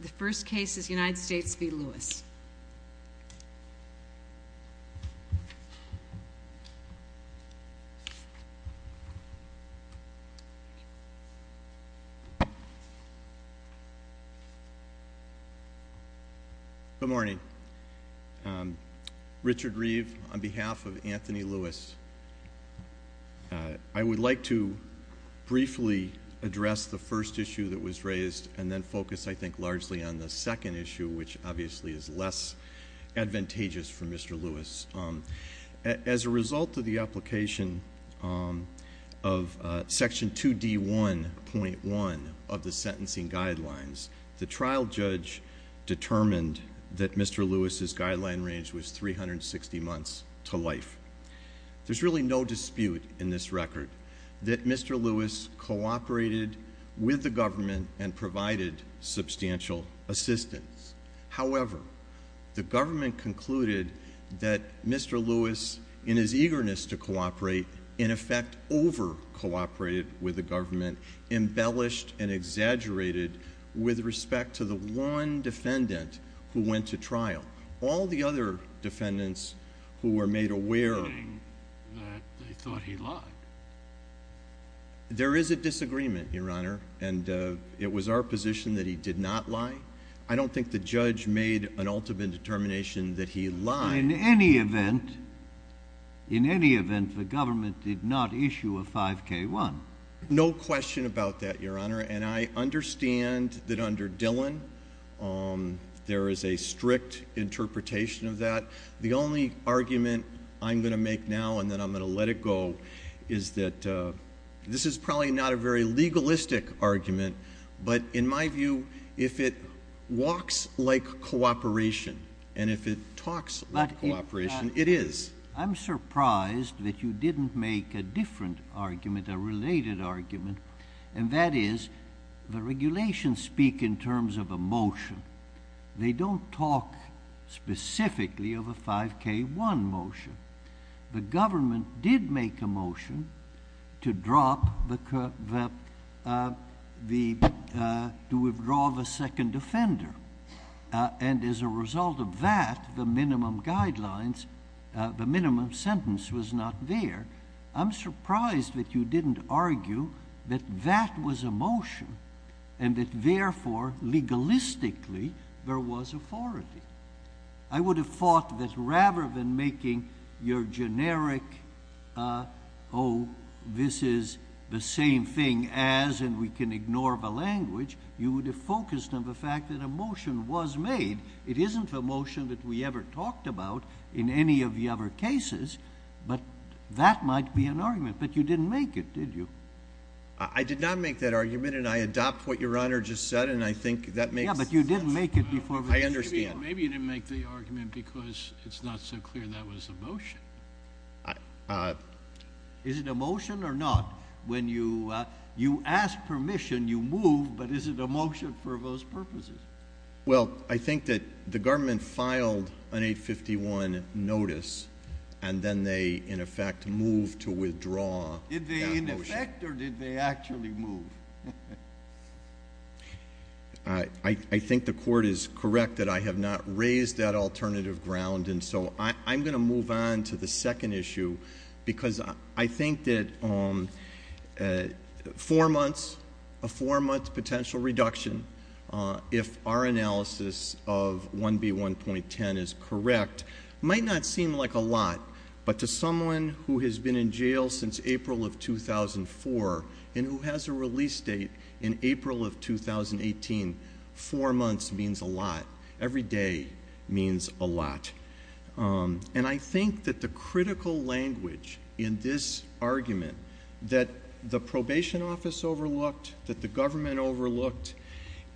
The first case is United States v. Lewis. Good morning. Richard Reeve, on behalf of Anthony Lewis. I would like to briefly address the first issue that was raised and then focus, I think, largely on the second issue, which obviously is less advantageous for Mr. Lewis. As a result of the application of Section 2D1.1 of the Sentencing Guidelines, the trial judge determined that Mr. Lewis' guideline range was 360 months to life. There's really no dispute in this record that Mr. Lewis cooperated with the government and provided substantial assistance. However, the government concluded that Mr. Lewis, in his eagerness to cooperate, in effect over-cooperated with the government, embellished and exaggerated with respect to the one defendant who went to trial. All the other defendants who were made aware that they thought he lied. There is a disagreement, Your Honor, and it was our position that he did not lie. I don't think the judge made an ultimate determination that he lied. In any event, the government did not issue a 5K1. No question about that, Your Honor, and I understand that under Dillon there is a strict interpretation of that. The only argument I'm going to make now and then I'm going to let it go is that this is probably not a very legalistic argument, but in my view, if it walks like cooperation and if it talks like cooperation, it is. I'm surprised that you didn't make a different argument, a related argument, and that is the regulations speak in terms of a motion. They don't talk specifically of a 5K1 motion. The government did make a motion to withdraw the second offender, and as a result of that, the minimum guidelines, the minimum sentence was not there. I'm surprised that you didn't argue that that was a motion and that therefore, legalistically, there was authority. I would have thought that rather than making your generic, oh, this is the same thing as, and we can ignore the language, you would have focused on the fact that a motion was made. It isn't a motion that we ever talked about in any of the other cases, but that might be an argument, but you didn't make it, did you? I did not make that argument, and I adopt what Your Honor just said, and I think that makes sense. I understand. Maybe you didn't make the argument because it's not so clear that was a motion. Is it a motion or not? When you ask permission, you move, but is it a motion for those purposes? Well, I think that the government filed an 851 notice, and then they, in effect, moved to withdraw that motion. Did they, in effect, or did they actually move? I think the court is correct that I have not raised that alternative ground, and so I'm going to move on to the second issue because I think that a four-month potential reduction, if our analysis of 1B1.10 is correct, might not seem like a lot, but to someone who has been in jail since April of 2004 and who has a release date in April of 2018, four months means a lot. Every day means a lot. And I think that the critical language in this argument that the probation office overlooked, that the government overlooked,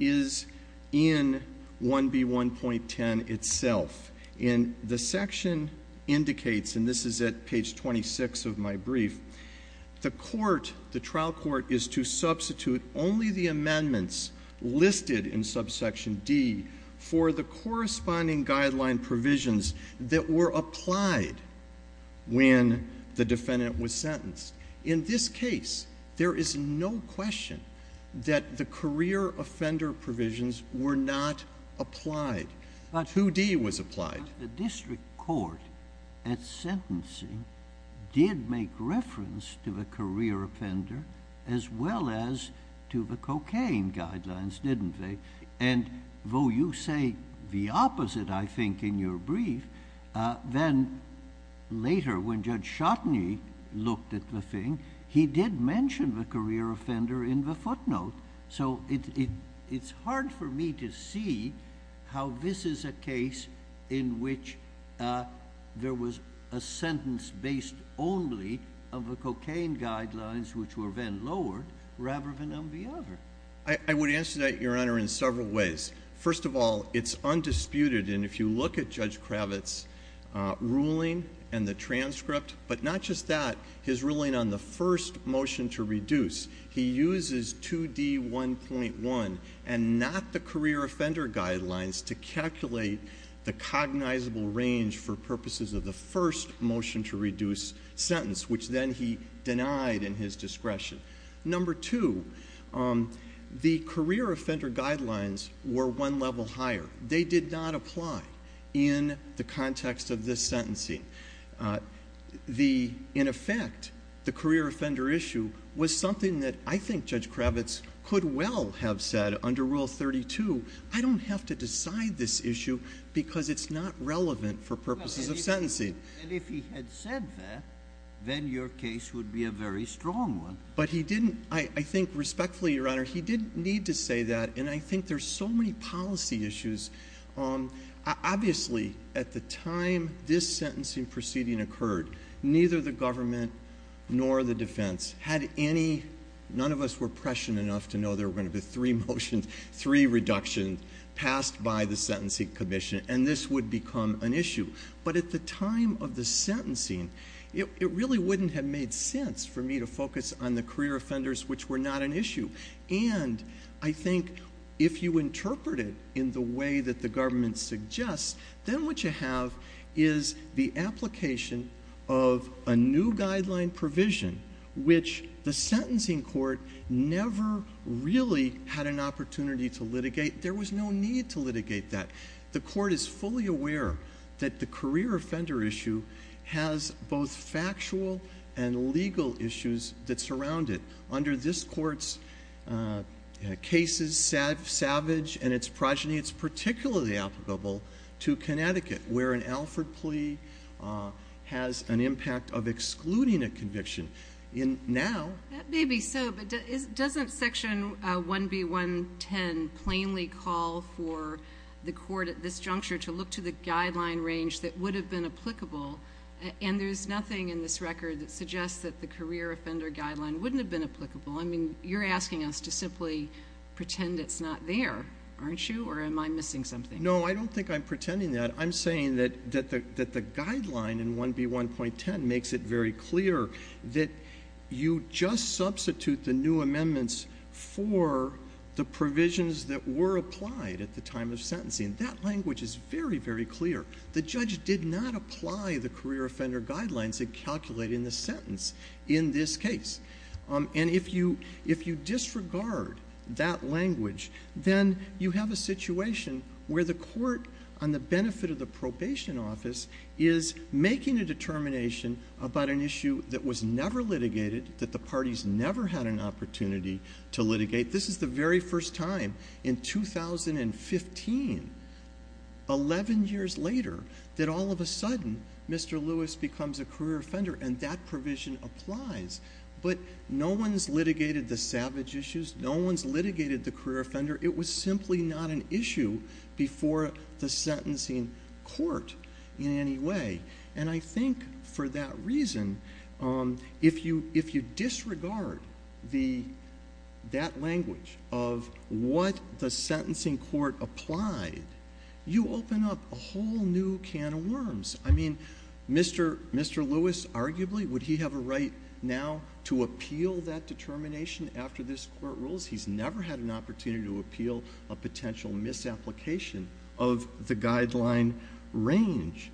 is in 1B1.10 itself. And the section indicates, and this is at page 26 of my brief, the court, the trial court, is to substitute only the amendments listed in subsection D for the corresponding guideline provisions that were applied when the defendant was sentenced. In this case, there is no question that the career offender provisions were not applied. 2D was applied. But the district court at sentencing did make reference to the career offender as well as to the cocaine guidelines, didn't they? And though you say the opposite, I think, in your brief, then later when Judge Schotteny looked at the thing, he did mention the career offender in the footnote. So it's hard for me to see how this is a case in which there was a sentence based only of the cocaine guidelines which were then lowered rather than on the other. I would answer that, Your Honor, in several ways. First of all, it's undisputed, and if you look at Judge Kravitz's ruling and the transcript, but not just that, his ruling on the first motion to reduce, he uses 2D1.1 and not the career offender guidelines to calculate the cognizable range for purposes of the first motion to reduce sentence, which then he denied in his discretion. Number two, the career offender guidelines were one level higher. They did not apply in the context of this sentencing. In effect, the career offender issue was something that I think Judge Kravitz could well have said under Rule 32, I don't have to decide this issue because it's not relevant for purposes of sentencing. And if he had said that, then your case would be a very strong one. But he didn't, I think respectfully, Your Honor, he didn't need to say that, and I think there's so many policy issues. Obviously, at the time this sentencing proceeding occurred, neither the government nor the defense had any, none of us were prescient enough to know there were going to be three motions, three reductions passed by the Sentencing Commission, and this would become an issue. But at the time of the sentencing, it really wouldn't have made sense for me to focus on the career offenders, which were not an issue. And I think if you interpret it in the way that the government suggests, then what you have is the application of a new guideline provision, which the sentencing court never really had an opportunity to litigate. There was no need to litigate that. The court is fully aware that the career offender issue has both factual and legal issues that surround it. Under this court's cases, Savage and its progeny, it's particularly applicable to Connecticut, where an Alford plea has an impact of excluding a conviction. In now. That may be so, but doesn't Section 1B110 plainly call for the court at this juncture to look to the guideline range that would have been applicable? And there's nothing in this record that suggests that the career offender guideline wouldn't have been applicable. I mean, you're asking us to simply pretend it's not there, aren't you? Or am I missing something? No, I don't think I'm pretending that. I'm saying that the guideline in 1B110 makes it very clear that you just substitute the new amendments for the provisions that were applied at the time of sentencing. That language is very, very clear. The judge did not apply the career offender guidelines in calculating the sentence in this case. And if you disregard that language, then you have a situation where the court, on the benefit of the probation office, is making a determination about an issue that was never litigated, that the parties never had an opportunity to litigate. This is the very first time in 2015, 11 years later, that all of a sudden Mr. Lewis becomes a career offender, and that provision applies. But no one's litigated the savage issues. No one's litigated the career offender. It was simply not an issue before the sentencing court in any way. And I think for that reason, if you disregard that language of what the sentencing court applied, you open up a whole new can of worms. I mean, Mr. Lewis, arguably, would he have a right now to appeal that determination after this court rules? He's never had an opportunity to appeal a potential misapplication of the guideline range.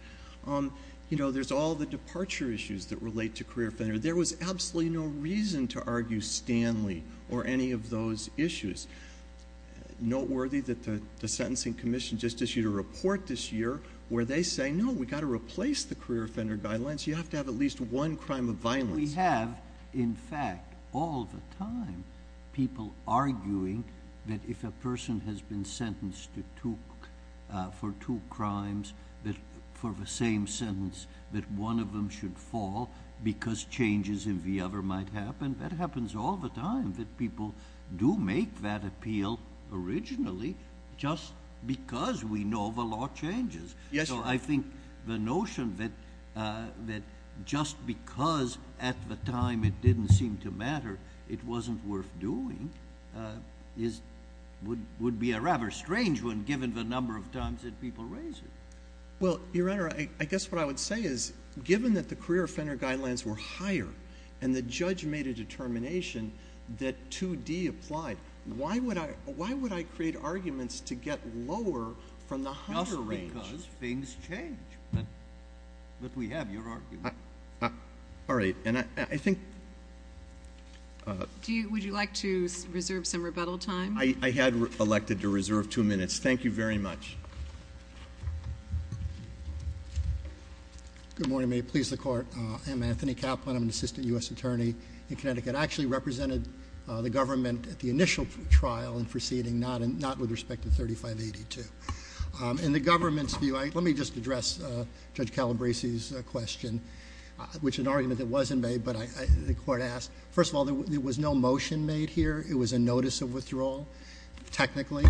You know, there's all the departure issues that relate to career offender. There was absolutely no reason to argue Stanley or any of those issues. Noteworthy that the sentencing commission just issued a report this year where they say, no, we've got to replace the career offender guidelines. You have to have at least one crime of violence. We have, in fact, all the time people arguing that if a person has been sentenced for two crimes, for the same sentence, that one of them should fall because changes in the other might happen. That happens all the time, that people do make that appeal originally just because we know the law changes. So I think the notion that just because at the time it didn't seem to matter, it wasn't worth doing would be a rather strange one given the number of times that people raise it. Well, Your Honor, I guess what I would say is given that the career offender guidelines were higher and the judge made a determination that 2D applied, why would I create arguments to get lower from the higher range? Because things change. But we have your argument. All right. And I think – Would you like to reserve some rebuttal time? I had elected to reserve two minutes. Thank you very much. Good morning. May it please the Court. I'm Anthony Kaplan. I'm an assistant U.S. attorney in Connecticut. I actually represented the government at the initial trial and proceeding, not with respect to 3582. In the government's view, let me just address Judge Calabresi's question, which is an argument that wasn't made, but the Court asked. First of all, there was no motion made here. It was a notice of withdrawal, technically.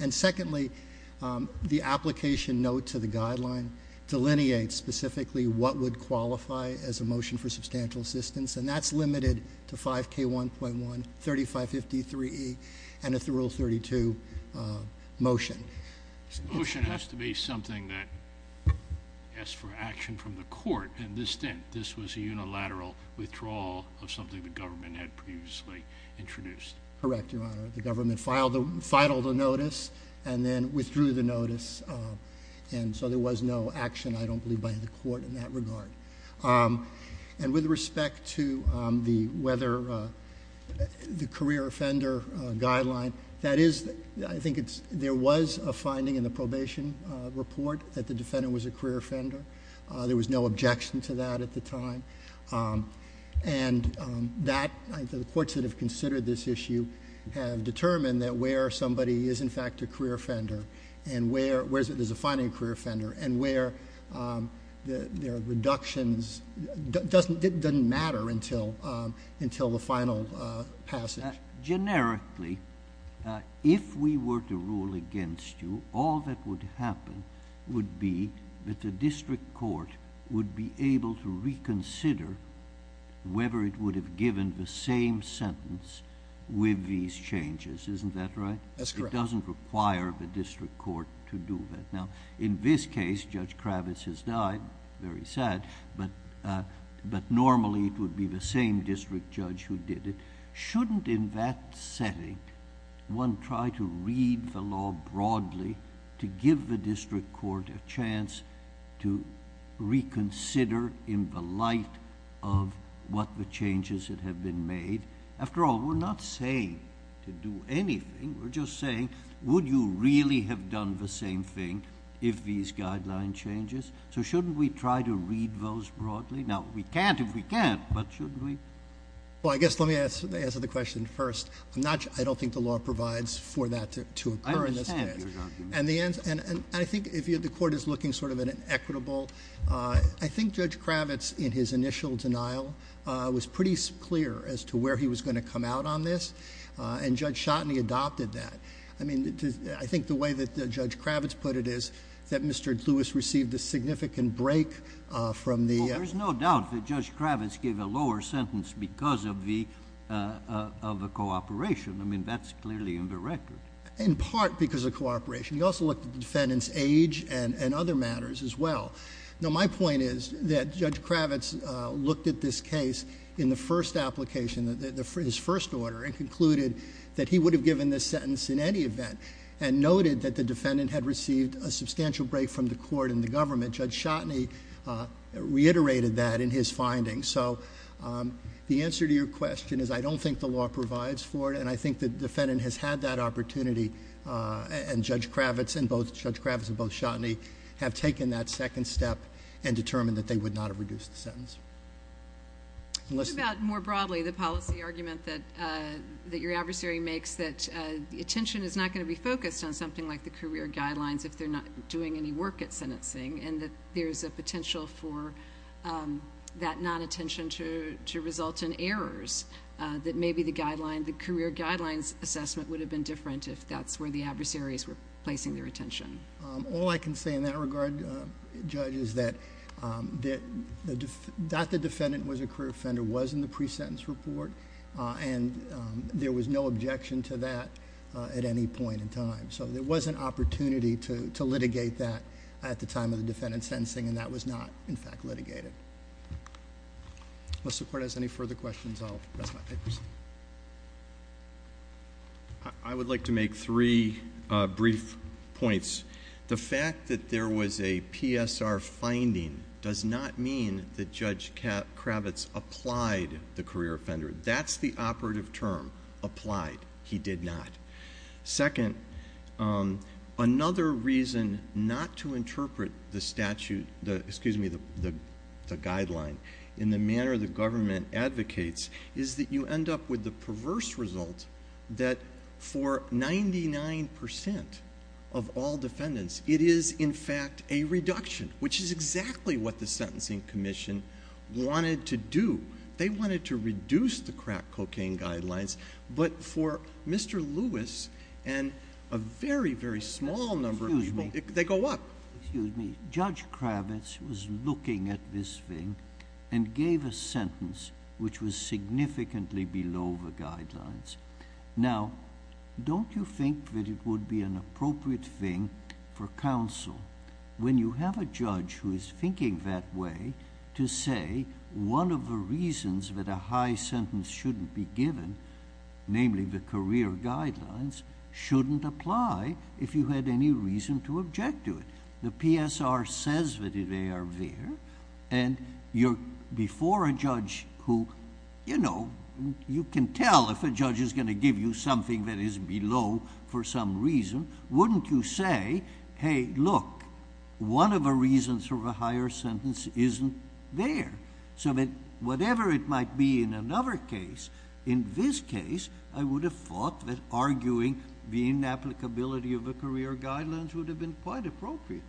And secondly, the application note to the guideline delineates specifically what would qualify as a motion for substantial assistance, and that's limited to 5K1.1, 3553E, and Rule 32 motion. Motion has to be something that asks for action from the Court. And this didn't. This was a unilateral withdrawal of something the government had previously introduced. Correct, Your Honor. The government filed the notice and then withdrew the notice, and so there was no action, I don't believe, by the Court in that regard. And with respect to the career offender guideline, that is, I think there was a finding in the probation report that the defendant was a career offender. There was no objection to that at the time. And the courts that have considered this issue have determined that where somebody is, in fact, a career offender and where there's a finding of a career offender and where there are reductions, it doesn't matter until the final passage. Generically, if we were to rule against you, all that would happen would be that the district court would be able to reconsider whether it would have given the same sentence with these changes. Isn't that right? That's correct. It doesn't require the district court to do that. Now, in this case, Judge Kravitz has died, very sad, but normally it would be the same district judge who did it. Shouldn't, in that setting, one try to read the law broadly to give the district court a chance to reconsider in the light of what the changes that have been made? After all, we're not saying to do anything. We're just saying, would you really have done the same thing if these guideline changes? So shouldn't we try to read those broadly? Now, we can't if we can't, but shouldn't we? Well, I guess let me answer the question first. I don't think the law provides for that to occur in this case. I understand your argument. And I think the court is looking sort of at an equitable. I think Judge Kravitz, in his initial denial, was pretty clear as to where he was going to come out on this, and Judge Schotteny adopted that. I mean, I think the way that Judge Kravitz put it is that Mr. Lewis received a significant break from the- Well, there's no doubt that Judge Kravitz gave a lower sentence because of the cooperation. I mean, that's clearly in the record. In part because of cooperation. He also looked at the defendant's age and other matters as well. Now, my point is that Judge Kravitz looked at this case in the first application, his first order, and concluded that he would have given this sentence in any event and noted that the defendant had received a substantial break from the court and the government. Judge Schotteny reiterated that in his findings. So the answer to your question is I don't think the law provides for it, and I think the defendant has had that opportunity, and Judge Kravitz and both Schotteny have taken that second step and determined that they would not have reduced the sentence. What about, more broadly, the policy argument that your adversary makes that the attention is not going to be focused on something like the career guidelines if they're not doing any work at sentencing, and that there's a potential for that non-attention to result in errors, that maybe the career guidelines assessment would have been different if that's where the adversaries were placing their attention? All I can say in that regard, Judge, is that the defendant was a career offender, was in the pre-sentence report, and there was no objection to that at any point in time. So there was an opportunity to litigate that at the time of the defendant's sentencing, and that was not, in fact, litigated. Unless the Court has any further questions, I'll rest my papers. I would like to make three brief points. The fact that there was a PSR finding does not mean that Judge Kravitz applied the career offender. That's the operative term, applied. He did not. Second, another reason not to interpret the statute, excuse me, the guideline, in the manner the government advocates is that you end up with the perverse result that for 99% of all defendants it is, in fact, a reduction, which is exactly what the Sentencing Commission wanted to do. They wanted to reduce the crack cocaine guidelines, but for Mr. Lewis and a very, very small number of people, they go up. Excuse me. Judge Kravitz was looking at this thing and gave a sentence which was significantly below the guidelines. Now, don't you think that it would be an appropriate thing for counsel, when you have a judge who is thinking that way, to say one of the reasons that a high sentence shouldn't be given, namely the career guidelines, shouldn't apply if you had any reason to object to it? The PSR says that they are there, and you're before a judge who, you know, you can tell if a judge is going to give you something that is below for some reason. Wouldn't you say, hey, look, one of the reasons for a higher sentence isn't there? So whatever it might be in another case, in this case, I would have thought that arguing the inapplicability of the career guidelines would have been quite appropriate.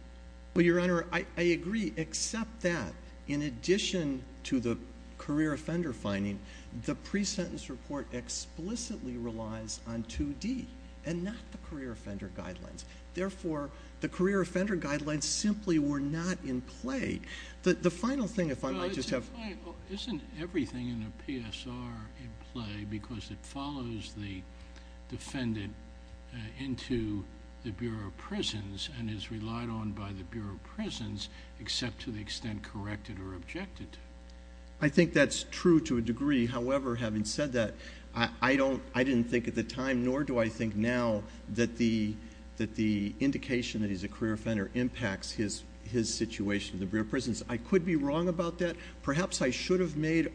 Well, Your Honor, I agree, except that in addition to the career offender finding, the pre-sentence report explicitly relies on 2D and not the career offender guidelines. Therefore, the career offender guidelines simply were not in play. Isn't everything in a PSR in play because it follows the defendant into the Bureau of Prisons and is relied on by the Bureau of Prisons, except to the extent corrected or objected to? I think that's true to a degree. However, having said that, I didn't think at the time, nor do I think now, that the indication that he's a career offender impacts his situation in the Bureau of Prisons. I could be wrong about that. Perhaps I should have made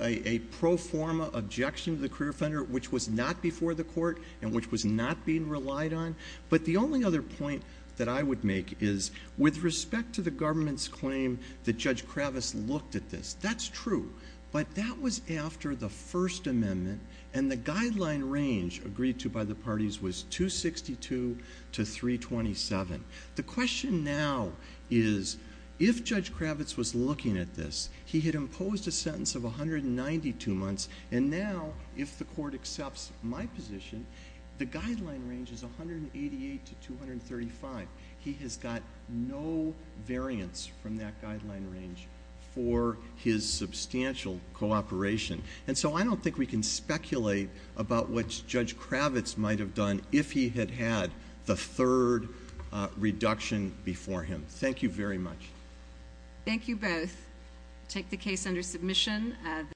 a pro forma objection to the career offender, which was not before the court and which was not being relied on. But the only other point that I would make is, with respect to the government's claim that Judge Kravis looked at this, that's true. But that was after the First Amendment, and the guideline range agreed to by the parties was 262 to 327. The question now is, if Judge Kravis was looking at this, he had imposed a sentence of 192 months, and now, if the court accepts my position, the guideline range is 188 to 235. He has got no variance from that guideline range for his substantial cooperation. And so I don't think we can speculate about what Judge Kravis might have done if he had had the third reduction before him. Thank you very much. Thank you both. I take the case under submission.